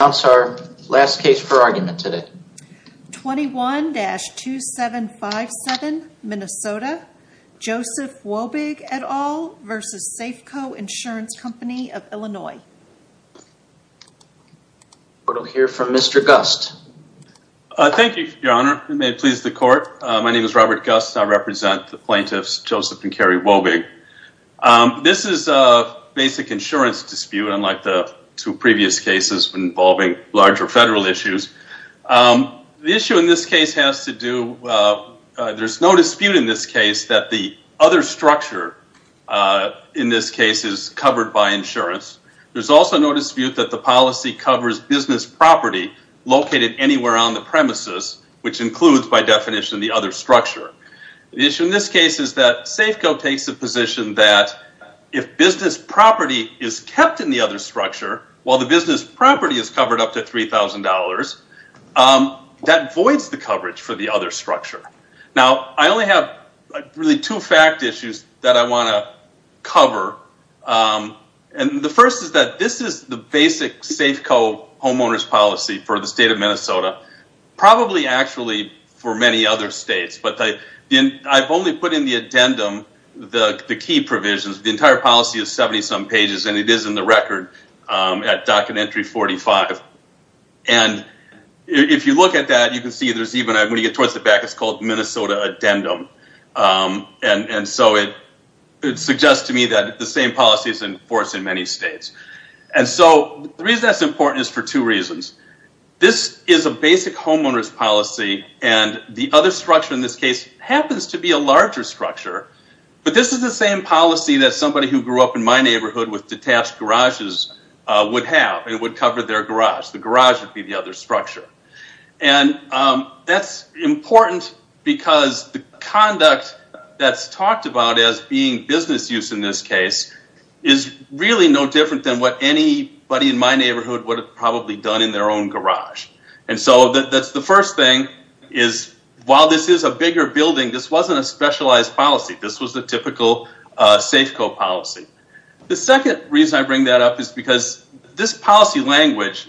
I'll announce our last case for argument today. 21-2757, Minnesota, Joseph Wobig et al. v. Safeco Insurance Company of Illinois. We'll hear from Mr. Gust. Thank you, Your Honor. May it please the court. My name is Robert Gust. I represent the plaintiffs Joseph and Carrie Wobig. This is a basic insurance dispute unlike the two previous cases involving larger federal issues. The issue in this case has to do, there's no dispute in this case that the other structure in this case is covered by insurance. There's also no dispute that the policy covers business property located anywhere on the premises, which includes by definition the other structure. The issue in this case is that Safeco takes a position that if business property is kept in the other structure, while the business property is covered up to $3,000, that voids the coverage for the other structure. Now, I only have really two fact issues that I want to cover. And the first is that this is the basic Safeco homeowner's policy for the state of Minnesota, probably actually for many other states, but I've only put in the addendum the key provisions. The entire policy is 70-some pages, and it is in the record at Documentary 45. And if you look at that, you can see there's even, when you get towards the back, it's called Minnesota Addendum. And so it suggests to me that the same policy is enforced in many states. And so the reason that's important is for two reasons. This is a basic homeowner's policy, and the other structure in this case happens to be a larger structure. But this is the same policy that somebody who grew up in my neighborhood with detached garages would have, and would cover their garage. The garage would be the other structure. And that's important because the conduct that's talked about as being business use in this case is really no different than what anybody in my neighborhood would have probably done in their own garage. And so that's the first thing, is while this is a bigger building, this wasn't a specialized policy. This was the typical Safeco policy. The second reason I bring that up is because this policy language,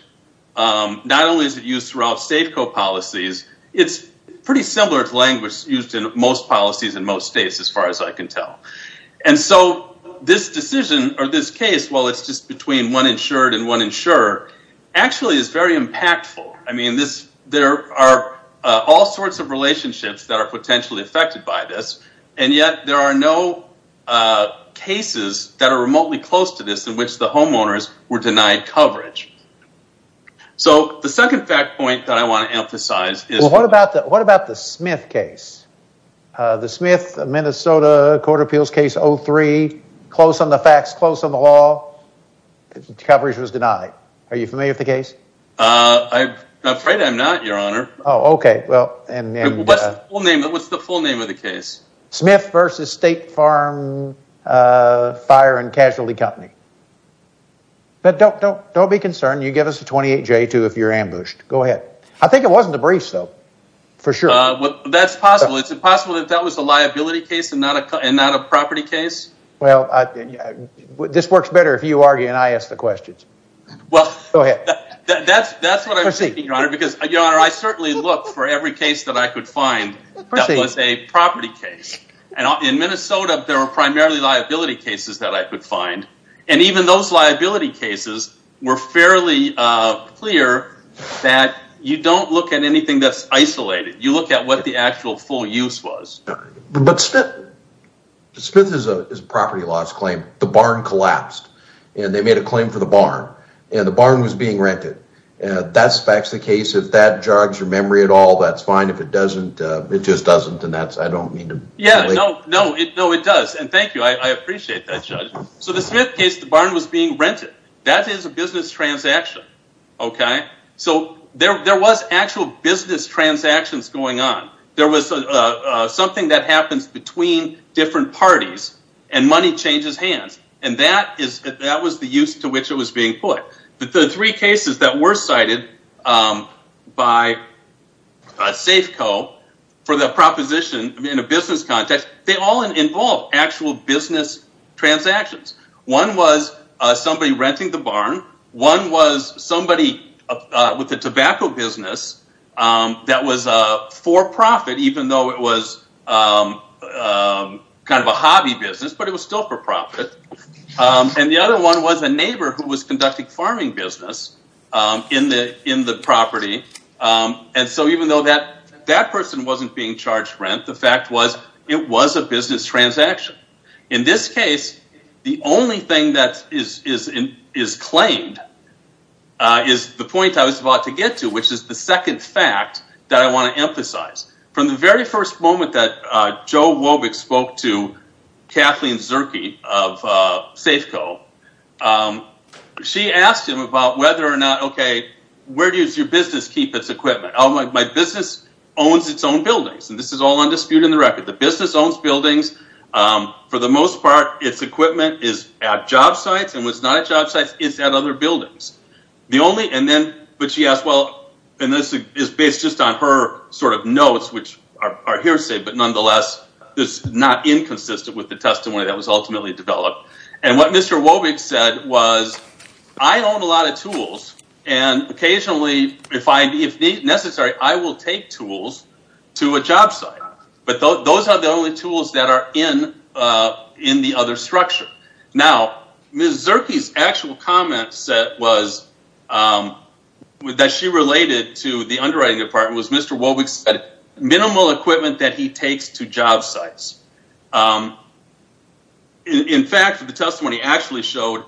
not only is it used throughout Safeco policies, it's pretty similar to language used in most policies in most states, as far as I can tell. And so this decision, or this case, while it's just between one insured and one insurer, actually is very impactful. I mean, there are all sorts of relationships that are potentially affected by this, and yet there are no cases that are remotely close to this in which the homeowners were denied coverage. So the second fact point that I want to emphasize is... Close on the facts, close on the law, coverage was denied. Are you familiar with the case? I'm afraid I'm not, Your Honor. Oh, okay. What's the full name of the case? Smith v. State Farm Fire and Casualty Company. But don't be concerned. You give us a 28-J too if you're ambushed. Go ahead. I think it wasn't a briefs, though. For sure. That's possible. It's possible that that was a liability case and not a property case. Well, this works better if you argue and I ask the questions. Well... Go ahead. That's what I'm thinking, Your Honor, because I certainly looked for every case that I could find that was a property case. In Minnesota, there were primarily liability cases that I could find, and even those liability cases were fairly clear that you don't look at anything that's isolated. You look at what the actual full use was. But Smith is a property loss claim. The barn collapsed, and they made a claim for the barn. And the barn was being rented. That's the case. If that jogs your memory at all, that's fine. If it doesn't, it just doesn't, and I don't mean to... Yeah, no, it does. And thank you. I appreciate that, Judge. So the Smith case, the barn was being rented. That is a business transaction, okay? So there was actual business transactions going on. There was something that happens between different parties, and money changes hands. And that was the use to which it was being put. The three cases that were cited by Safeco for the proposition in a business context, they all involve actual business transactions. One was somebody renting the barn. One was somebody with a tobacco business that was for profit, even though it was kind of a hobby business, but it was still for profit. And the other one was a neighbor who was conducting farming business in the property. And so even though that person wasn't being charged rent, the fact was it was a business transaction. In this case, the only thing that is claimed is the point I was about to get to, which is the second fact that I want to emphasize. From the very first moment that Joe Wobick spoke to Kathleen Zirke of Safeco, she asked him about whether or not, okay, where does your business keep its equipment? My business owns its own buildings, and this is all undisputed in the record. The business owns buildings. For the most part, its equipment is at job sites, and what's not at job sites is at other buildings. But she asked, well, and this is based just on her sort of notes, which are hearsay, but nonetheless, it's not inconsistent with the testimony that was ultimately developed. And what Mr. Wobick said was, I own a lot of tools, and occasionally, if necessary, I will take tools to a job site. But those are the only tools that are in the other structure. Now, Ms. Zirke's actual comment that she related to the underwriting department was Mr. Wobick said minimal equipment that he takes to job sites. In fact, the testimony actually showed,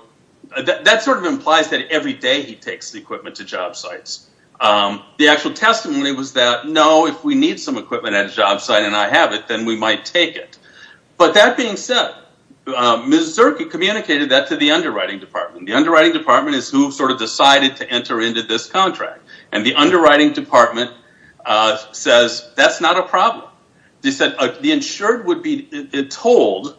that sort of implies that every day he takes the equipment to job sites. The actual testimony was that, no, if we need some equipment at a job site and I have it, then we might take it. But that being said, Ms. Zirke communicated that to the underwriting department. The underwriting department is who sort of decided to enter into this contract. And the underwriting department says, that's not a problem. They said the insured would be told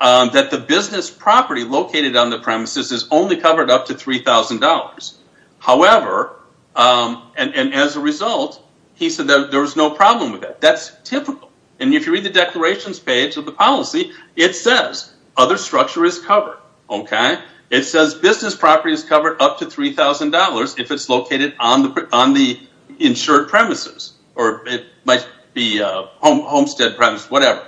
that the business property located on the premises is only covered up to $3,000. However, and as a result, he said that there was no problem with that. That's typical. And if you read the declarations page of the policy, it says other structure is covered. It says business property is covered up to $3,000 if it's located on the insured premises. Or it might be a homestead premise, whatever.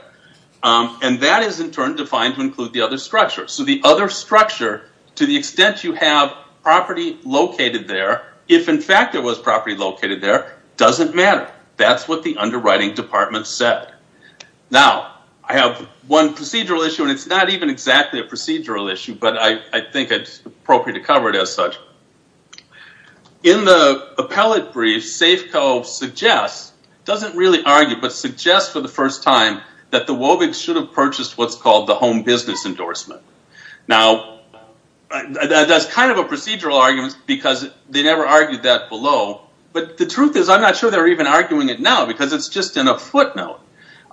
And that is in turn defined to include the other structure. So the other structure, to the extent you have property located there, if in fact there was property located there, doesn't matter. That's what the underwriting department said. Now, I have one procedural issue and it's not even exactly a procedural issue, but I think it's appropriate to cover it as such. In the appellate brief, Safeco suggests, doesn't really argue, but suggests for the first time that the Wovigs should have purchased what's called the home business endorsement. Now, that's kind of a procedural argument because they never argued that below. But the truth is, I'm not sure they're even arguing it now because it's just in a footnote.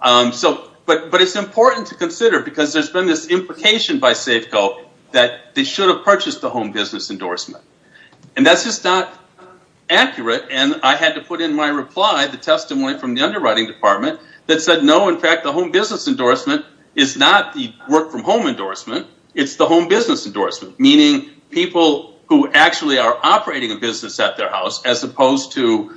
But it's important to consider because there's been this implication by Safeco that they should have purchased the home business endorsement. And that's just not accurate and I had to put in my reply the testimony from the underwriting department that said no, in fact, the home business endorsement is not the work from home endorsement. It's the home business endorsement. Meaning people who actually are operating a business at their house as opposed to,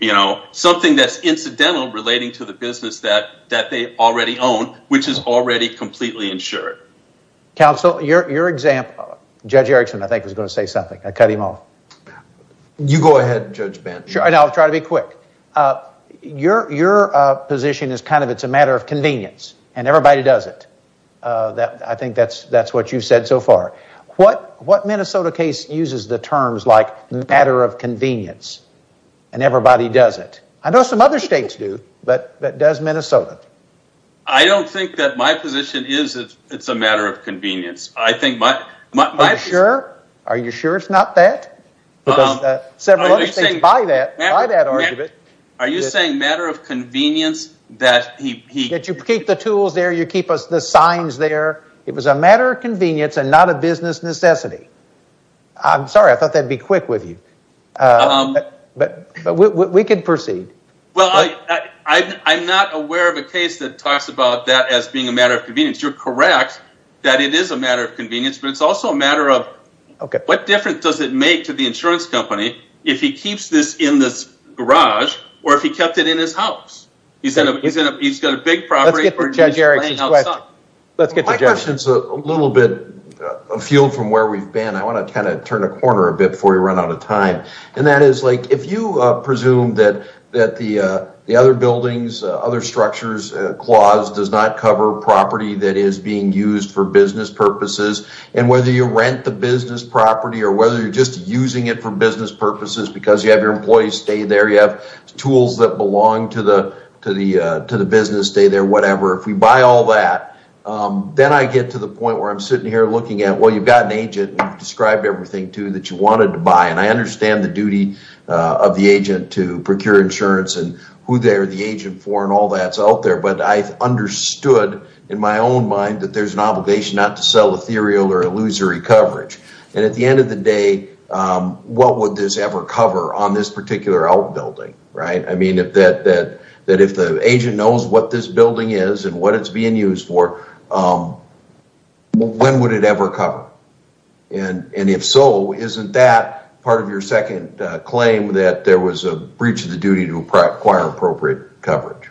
you know, something that's incidental relating to the business that they already own, which is already completely insured. Counsel, your example. Judge Erickson, I think, was going to say something. I cut him off. You go ahead, Judge Ben. I'll try to be quick. Your position is kind of it's a matter of convenience. And everybody does it. I think that's what you've said so far. What Minnesota case uses the terms like matter of convenience? And everybody does it. I know some other states do. But does Minnesota? I don't think that my position is it's a matter of convenience. Are you sure? Are you sure it's not that? Because several other states buy that argument. Are you saying matter of convenience? That you keep the tools there. You keep the signs there. It was a matter of convenience and not a business necessity. I'm sorry. I thought that would be quick with you. But we can proceed. Well, I'm not aware of a case that talks about that as being a matter of convenience. You're correct that it is a matter of convenience. But it's also a matter of what difference does it make to the insurance company if he keeps this in this garage or if he kept it in his house? He's got a big property. Let's get to Judge Erickson's question. My question is a little bit afield from where we've been. I want to kind of turn a corner a bit before we run out of time. And that is like if you presume that the other buildings, other structures, claws does not cover property that is being used for business purposes. And whether you rent the business property or whether you're just using it for business purposes because you have your employees stay there. You have tools that belong to the business, stay there, whatever. If we buy all that, then I get to the point where I'm sitting here looking at, well, you've got an agent and you've described everything to that you wanted to buy. And I understand the duty of the agent to procure insurance and who they're the agent for and all that's out there. But I've understood in my own mind that there's an obligation not to sell ethereal or illusory coverage. And at the end of the day, what would this ever cover on this particular outbuilding, right? I mean, if the agent knows what this building is and what it's being used for, when would it ever cover? And if so, isn't that part of your second claim that there was a breach of the duty to acquire appropriate coverage?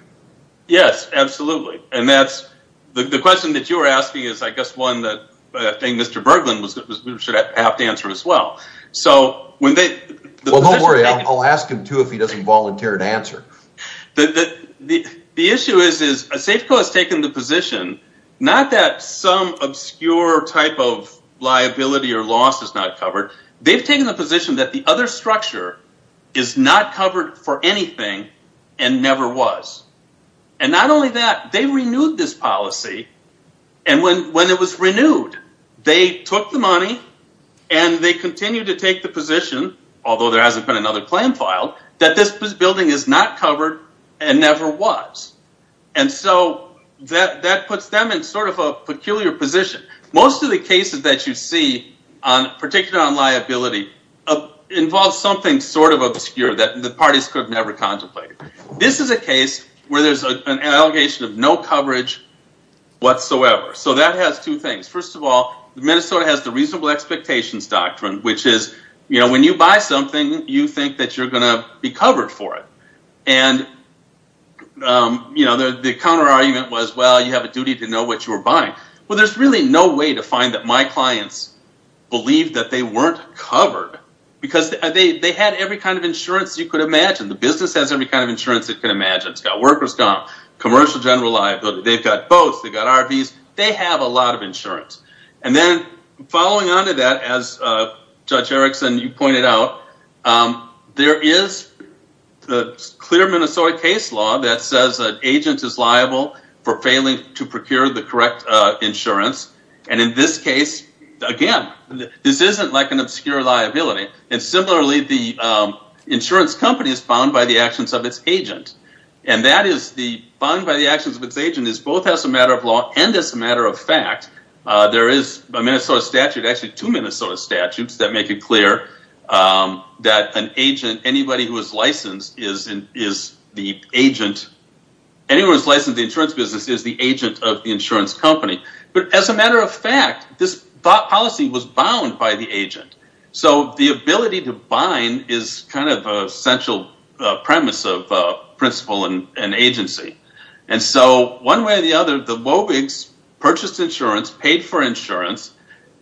Yes, absolutely. The question that you're asking is, I guess, one that I think Mr. Berglund should have to answer as well. Well, don't worry. I'll ask him too if he doesn't volunteer to answer. The issue is that Safeco has taken the position, not that some obscure type of liability or loss is not covered. They've taken the position that the other structure is not covered for anything and never was. And not only that, they renewed this policy. And when it was renewed, they took the money and they continued to take the position, although there hasn't been another claim filed, that this building is not covered and never was. And so that puts them in sort of a peculiar position. Most of the cases that you see, particularly on liability, involve something sort of obscure that the parties could have never contemplated. This is a case where there's an allegation of no coverage whatsoever. So that has two things. First of all, Minnesota has the reasonable expectations doctrine, which is, when you buy something, you think that you're going to be covered for it. And the counter-argument was, well, you have a duty to know what you're buying. Well, there's really no way to find that my clients believed that they weren't covered. Because they had every kind of insurance you could imagine. The business has every kind of insurance it can imagine. It's got workers' comp, commercial general liability. They've got boats. They've got RVs. They have a lot of insurance. And then following on to that, as Judge Erickson, you pointed out, there is the clear Minnesota case law that says an agent is liable for failing to procure the correct insurance. And in this case, again, this isn't like an obscure liability. And similarly, the insurance company is bound by the actions of its agent. And that is, bound by the actions of its agent is both as a matter of law and as a matter of fact. There is a Minnesota statute, actually two Minnesota statutes, that make it clear that an agent, anybody who is licensed is the agent, anyone who is licensed in the insurance business is the agent of the insurance company. But as a matter of fact, this policy was bound by the agent. So the ability to bind is kind of a central premise of principle and agency. And so, one way or the other, the Mobigs purchased insurance, paid for insurance,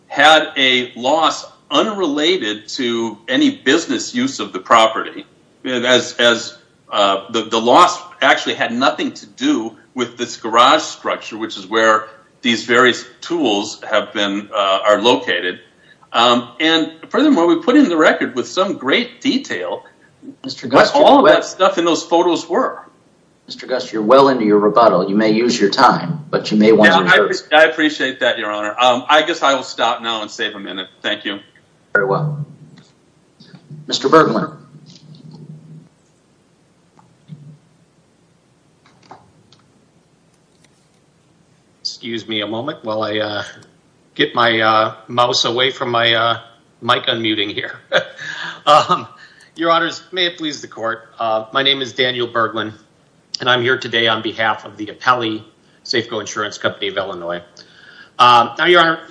had a loss unrelated to any business use of the property. The loss actually had nothing to do with this garage structure, which is where these various tools are located. And furthermore, we put in the record with some great detail, what all that stuff in those photos were. Mr. Gus, you're well into your rebuttal. You may use your time, but you may want to... I appreciate that, Your Honor. I guess I will stop now and save a minute. Thank you. Very well. Mr. Bergman. Excuse me a moment while I get my mouse away from my mic unmuting here. Your Honors, may it please the Court. My name is Daniel Bergman, and I'm here today on behalf of the Apelli Safeco Insurance Company of Illinois. Now, Your Honor,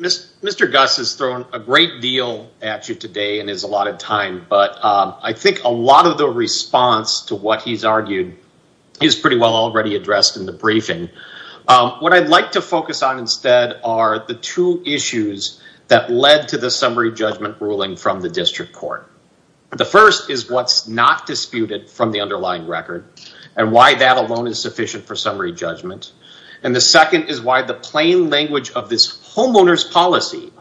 Mr. Gus has thrown a great deal at you today and has allotted time to answer your questions. But I think a lot of the response to what he's argued is pretty well already addressed in the briefing. What I'd like to focus on instead are the two issues that led to the summary judgment ruling from the District Court. The first is what's not disputed from the underlying record and why that alone is sufficient for summary judgment. And the second is why the plain language of this homeowner's policy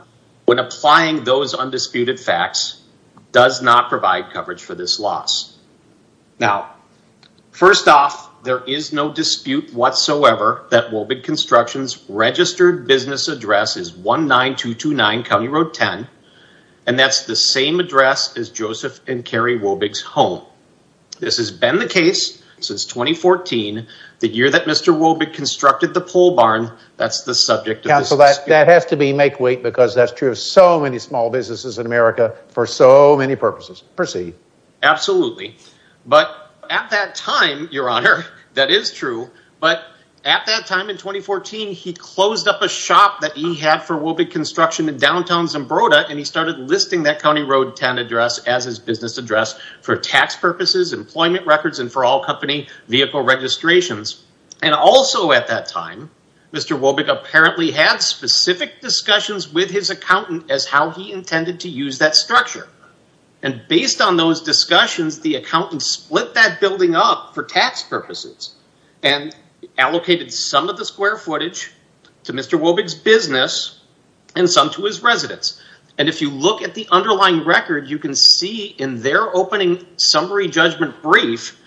when applying those undisputed facts does not provide coverage for this loss. Now, first off, there is no dispute whatsoever that Wobig Construction's registered business address is 19229 County Road 10, and that's the same address as Joseph and Carrie Wobig's home. This has been the case since 2014, the year that Mr. Wobig constructed the pole barn. That has to be make weight because that's true of so many small businesses in America for so many purposes. Proceed. Absolutely. But at that time, Your Honor, that is true, but at that time in 2014, he closed up a shop that he had for Wobig Construction in downtown Zambroda and he started listing that County Road 10 address as his business address for tax purposes, employment records, and for all company vehicle registrations. And also at that time, Mr. Wobig apparently had specific discussions with his accountant as how he intended to use that structure. And based on those discussions, the accountant split that building up for tax purposes and allocated some of the square footage to Mr. Wobig's business and some to his residence. And if you look at the underlying record, you can see in their opening summary judgment brief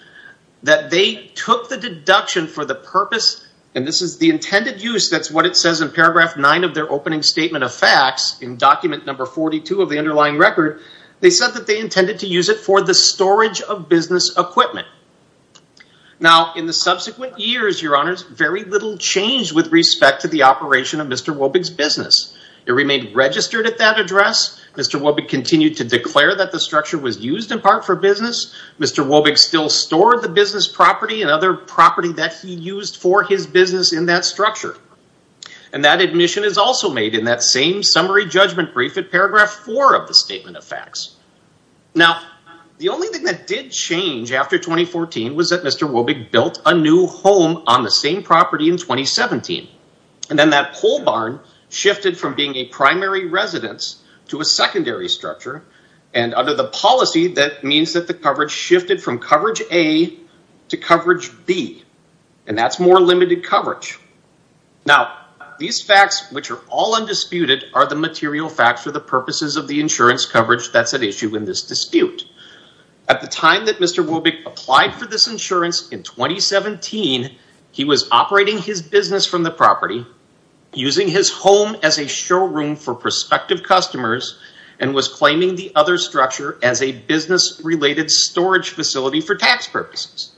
that they took the deduction for the purpose, and this is the intended use, that's what it says in paragraph 9 of their opening statement of facts in document number 42 of the underlying record, they said that they intended to use it for the storage of business equipment. Now, in the subsequent years, Your Honors, very little changed with respect to the operation of Mr. Wobig's business. It remained registered at that address. Mr. Wobig continued to declare that the structure was used in part for business. Mr. Wobig still stored the business property and other property that he used for his business in that structure. And that admission is also made in that same summary judgment brief in paragraph 4 of the statement of facts. Now, the only thing that did change after 2014 was that Mr. Wobig built a new home on the same property in 2017. And then that pole barn shifted from being a primary residence to a secondary structure, and under the policy, that means that the coverage shifted from coverage A to coverage B, and that's more limited coverage. Now, these facts, which are all undisputed, are the material facts for the purposes of the insurance coverage that's at issue in this dispute. At the time that Mr. Wobig applied for this insurance in 2017, he was operating his business from the property, using his home as a showroom for prospective customers, and was claiming the other structure as a business-related storage facility for tax purposes.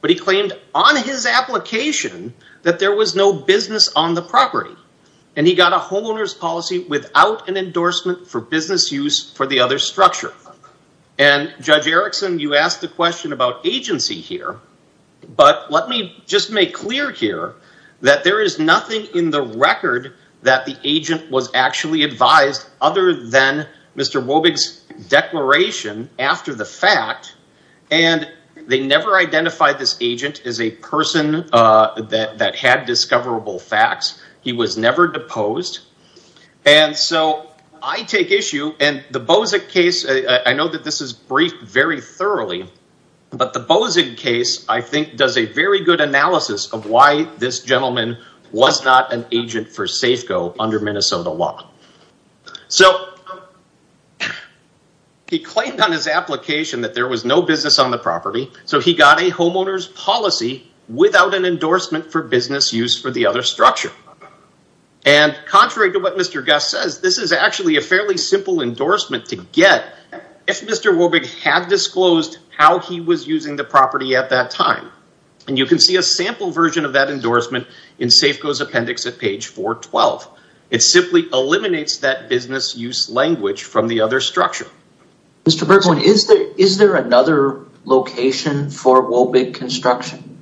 But he claimed on his application that there was no business on the property, and he got a homeowner's policy without an endorsement for business use for the other structure. And Judge Erickson, you asked the question about agency here, but let me just make clear here that there is nothing in the record that the agent was actually advised other than Mr. Wobig's declaration after the fact, and they never identified this agent as a person that had discoverable facts. He was never deposed. And so I take issue, and the Bozic case, I know that this is briefed very this gentleman was not an agent for Safeco under Minnesota law. So he claimed on his application that there was no business on the property, so he got a homeowner's policy without an endorsement for business use for the other structure. And contrary to what Mr. Guest says, this is actually a fairly simple endorsement to get if Mr. Wobig had disclosed how he was using the property at that time. And you can see a sample version of that endorsement in Safeco's appendix at page 412. It simply eliminates that business use language from the other structure. Mr. Berkman, is there another location for Wobig construction?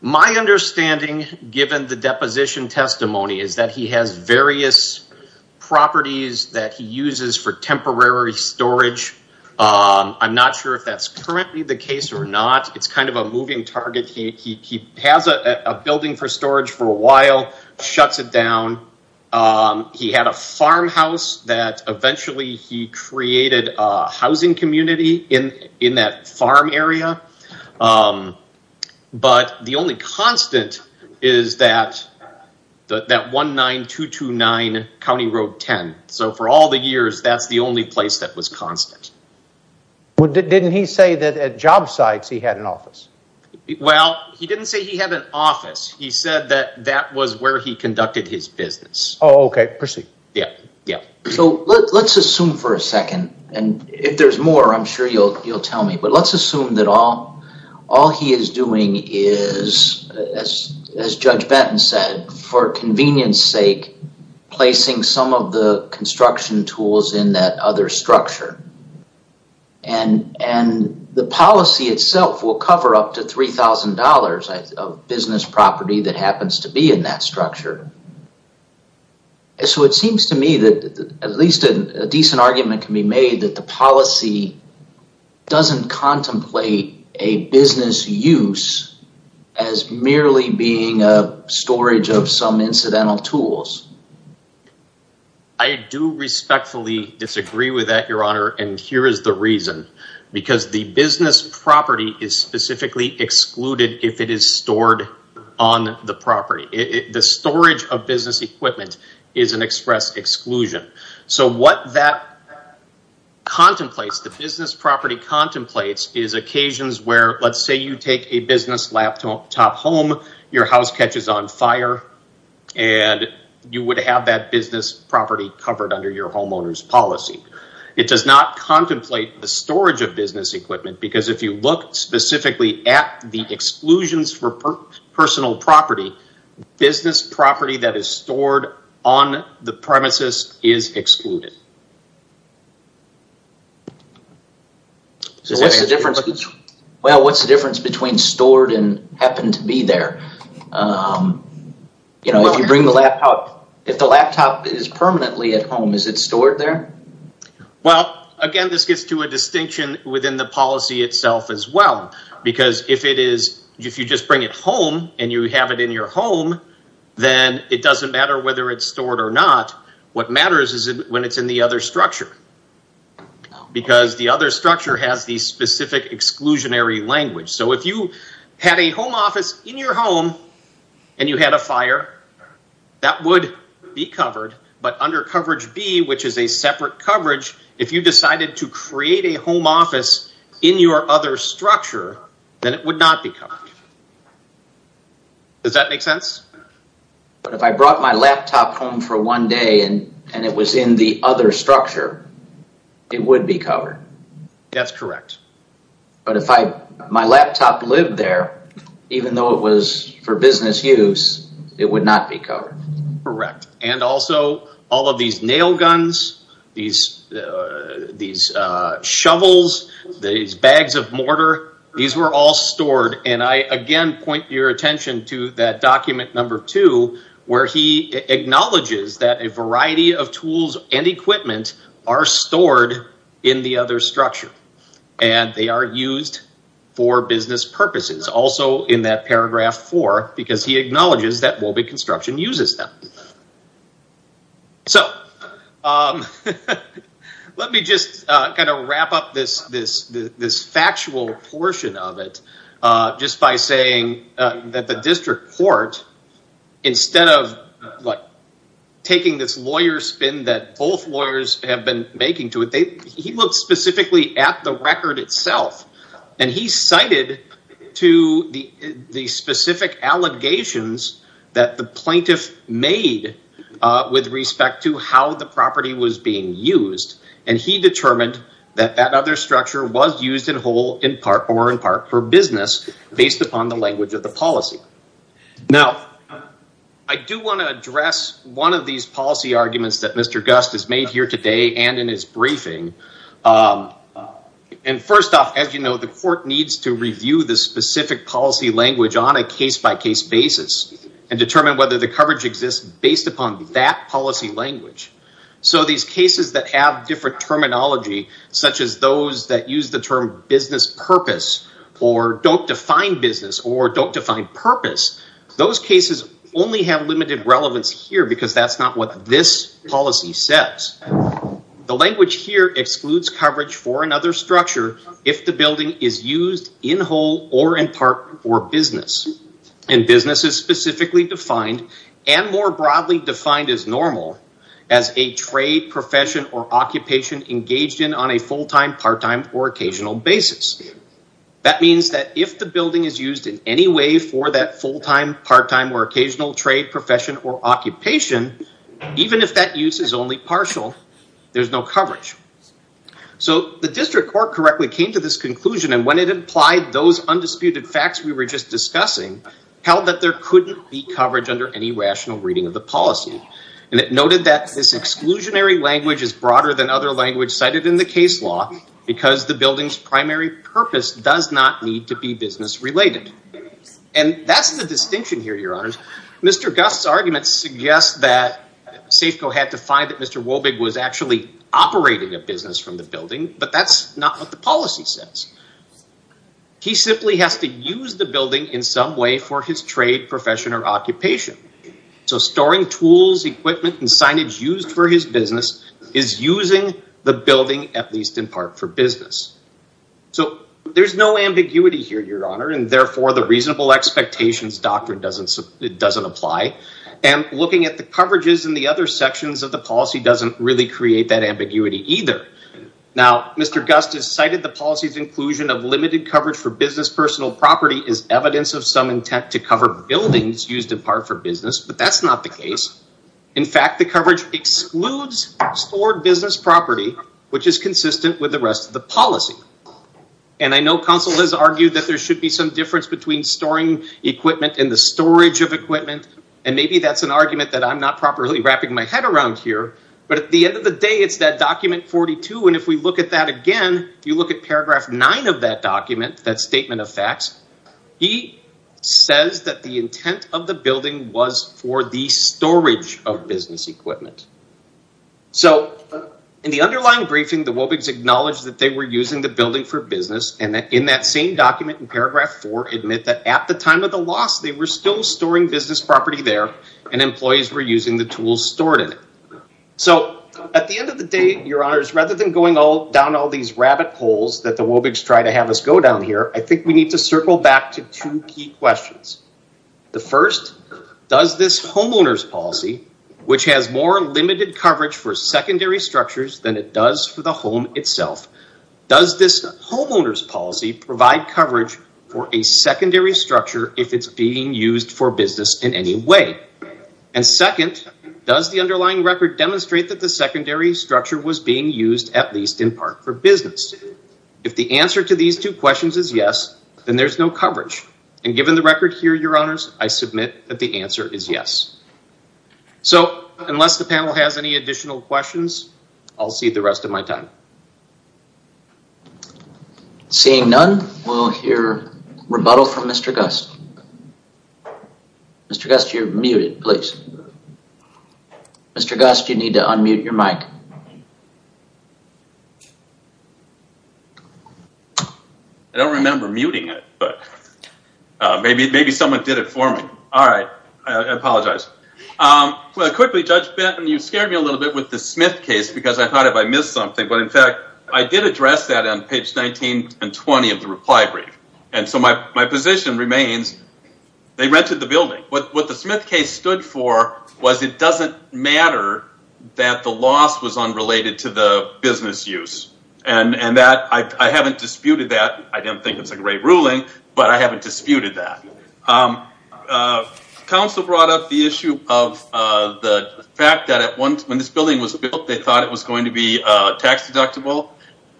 My understanding, given the deposition testimony, is that he has various properties that he uses for temporary storage. I'm not sure if that's currently the case or not. It's kind of a moving target. He has a building for storage for a while, shuts it down. He had a farmhouse that eventually he created a housing community in that farm area. But the only constant is that 19229 County Road 10. So for all the years, that's the only place that was constant. Didn't he say that at job sites he had an office? Well, he didn't say he had an office. He said that that was where he conducted his business. Oh, okay. Proceed. So let's assume for a second, and if there's more, I'm sure you'll tell me. But let's assume that all he is doing is, as Judge Benton said, for convenience sake, placing some of the construction tools in that other structure. And the policy itself will cover up to $3,000 of business property that happens to be in that structure. So it seems to me that at least a decent argument can be made that the policy doesn't contemplate a business use as merely being a storage of some incidental tools. I do respectfully disagree with that, Your Honor, and here is the reason. Because the business property is specifically excluded if it is stored on the property. The storage of business equipment is an express exclusion. So what that contemplates, the business property contemplates, is occasions where let's say you take a business laptop home, your house catches on fire, and you would have that business property covered under your homeowner's policy. It does not contemplate the storage of business equipment because if you look specifically at the exclusions for personal property, business property that is stored on the premises is excluded. So what's the difference between stored and happen to be there? You know, if you bring the laptop, if the laptop is permanently at home, is it stored there? Well, again, this gets to a distinction within the policy itself as well. Because if you just bring it home and you have it in your home, then it doesn't matter whether it's stored or not. What matters is when it's in the other structure. Because the other structure has the specific exclusionary language. So if you had a home office in your home and you had a fire, that would be covered. But under coverage B, which is a separate coverage, if you decided to create a home office in your other structure, then it would not be covered. Does that make sense? But if I brought my laptop home for one day and it was in the other structure, it would be covered. That's correct. But if my laptop lived there, even though it was for business use, it would not be covered. Correct. And also, all of these nail guns, these shovels, these bags of mortar, these were all stored. And I, again, point your attention to that document number two, where he acknowledges that a variety of tools and equipment are stored in the other structure. And they are used for business purposes. Also in that paragraph four, because he acknowledges that Wobbe Construction uses them. So, let me just kind of wrap up this factual portion of it, just by saying that the district court, instead of taking this lawyer spin that both lawyers have been making to it, he looked specifically at the record itself. And he cited to the specific allegations that the plaintiff made with respect to how the property was being used. And he determined that that other structure was used in whole or in part for business, based upon the language of the policy. Now, I do want to address one of these policy arguments that Mr. Gust has made here today and in his briefing. And first off, as you know, the court needs to review the specific policy language on a case-by-case basis and determine whether the coverage exists based upon that policy language. So, these cases that have different terminology, such as those that use the term business purpose, or don't define business, or don't define purpose, those cases only have limited relevance here, because that's not what this policy says. The language here excludes coverage for another structure if the building is used in whole or in part for business. And business is specifically defined, and more broadly defined as normal, as a trade, profession, or occupation engaged in on a full-time, part-time, or occasional basis. That means that if the building is used in any way for that full-time, part-time, or occasional trade, profession, or occupation, even if that use is only partial, there's no coverage. So, the district court correctly came to this conclusion, and when it implied those undisputed facts we were just discussing, held that there couldn't be coverage under any rational reading of the policy. And it noted that this exclusionary language is broader than other language cited in the case law, because the building's primary purpose does not need to be business-related. And that's the distinction here, Your Honors. Mr. Gust's arguments suggest that Safeco had to find that Mr. Wobig was actually operating a business from the building, but that's not what the policy says. He simply has to use the building in some way for his trade, profession, or occupation. So, storing tools, equipment, and signage used for his business is using the building, at least in part, for business. So, there's no ambiguity here, Your Honor, and therefore the reasonable expectations doctrine doesn't apply. And looking at the coverages in the other sections of the policy doesn't really create that ambiguity either. Now, Mr. Gust has cited the policy's inclusion of limited coverage for business personal property as evidence of some intent to cover buildings used in part for business, but that's not the case. In fact, the coverage excludes stored business property, which is consistent with the rest of the policy. And I know counsel has argued that there should be some difference between storing equipment and the storage of equipment, and maybe that's an argument that I'm not properly wrapping my head around here, but at the end of the day, it's that document 42, and if we look at that again, you look at paragraph 9 of that document, that statement of facts, he says that the intent of the building was for the storage of business equipment. So, in the underlying briefing, the Wobigs acknowledged that they were using the building for business, and in that same document in paragraph 4, admit that at the time of the loss, they were still storing business property there, and employees were using the tools stored in it. So, at the end of the day, your honors, rather than going down all these rabbit holes that the Wobigs try to have us go down here, I think we need to circle back to two key questions. The first, does this homeowner's policy, which has more limited coverage for business, does this homeowner's policy provide coverage for a secondary structure if it's being used for business in any way? And second, does the underlying record demonstrate that the secondary structure was being used at least in part for business? If the answer to these two questions is yes, then there's no coverage, and given the record here, your honors, I submit that the answer is yes. So, unless the panel has any additional questions, I'll cede the rest of my time. Seeing none, we'll hear rebuttal from Mr. Gust. Mr. Gust, you're muted, please. Mr. Gust, you need to unmute your mic. I don't remember muting it, but maybe someone did it for me. All right, I apologize. Quickly, Judge Benton, you scared me a little bit with the Smith case because I thought if I missed something, but in fact, I did address that on page 19 and 20 of the reply brief, and so my position remains, they rented the building. What the Smith case stood for was it doesn't matter that the loss was unrelated to the business use, and I haven't disputed that. I don't think it's a great ruling, but I haven't disputed that. Counsel brought up the issue of the fact that when this building was built, they thought it was going to be tax deductible.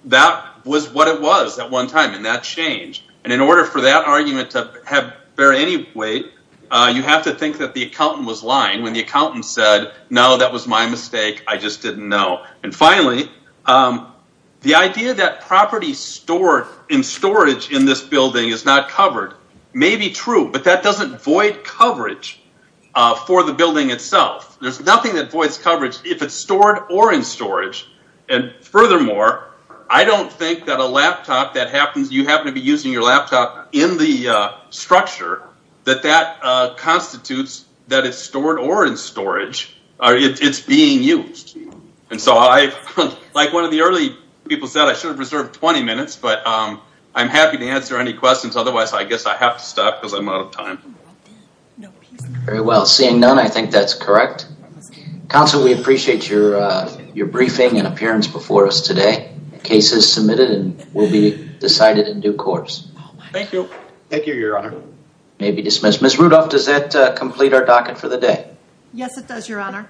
That was what it was at one time, and that changed, and in order for that argument to bear any weight, you have to think that the accountant was lying when the accountant said, no, that was my mistake, I just didn't know. And finally, the idea that property stored in storage in this building is not covered may be true, but that doesn't void coverage for the building itself. There's nothing that voids coverage if it's stored or in storage. And furthermore, I don't think that a laptop that happens, you happen to be using your laptop in the structure, that that constitutes that it's stored or in storage, it's being used. And so I, like one of the early people said, I should have reserved 20 minutes, but I'm happy to answer any questions, otherwise I guess I have to stop because I'm out of time. Very well. Seeing none, I think that's correct. Counsel, we appreciate your briefing and appearance before us today. The case is submitted and will be decided in due course. Thank you. Thank you, Your Honor. May be dismissed. Ms. Rudolph, does that complete our docket for the day? Yes, it does, Your Honor.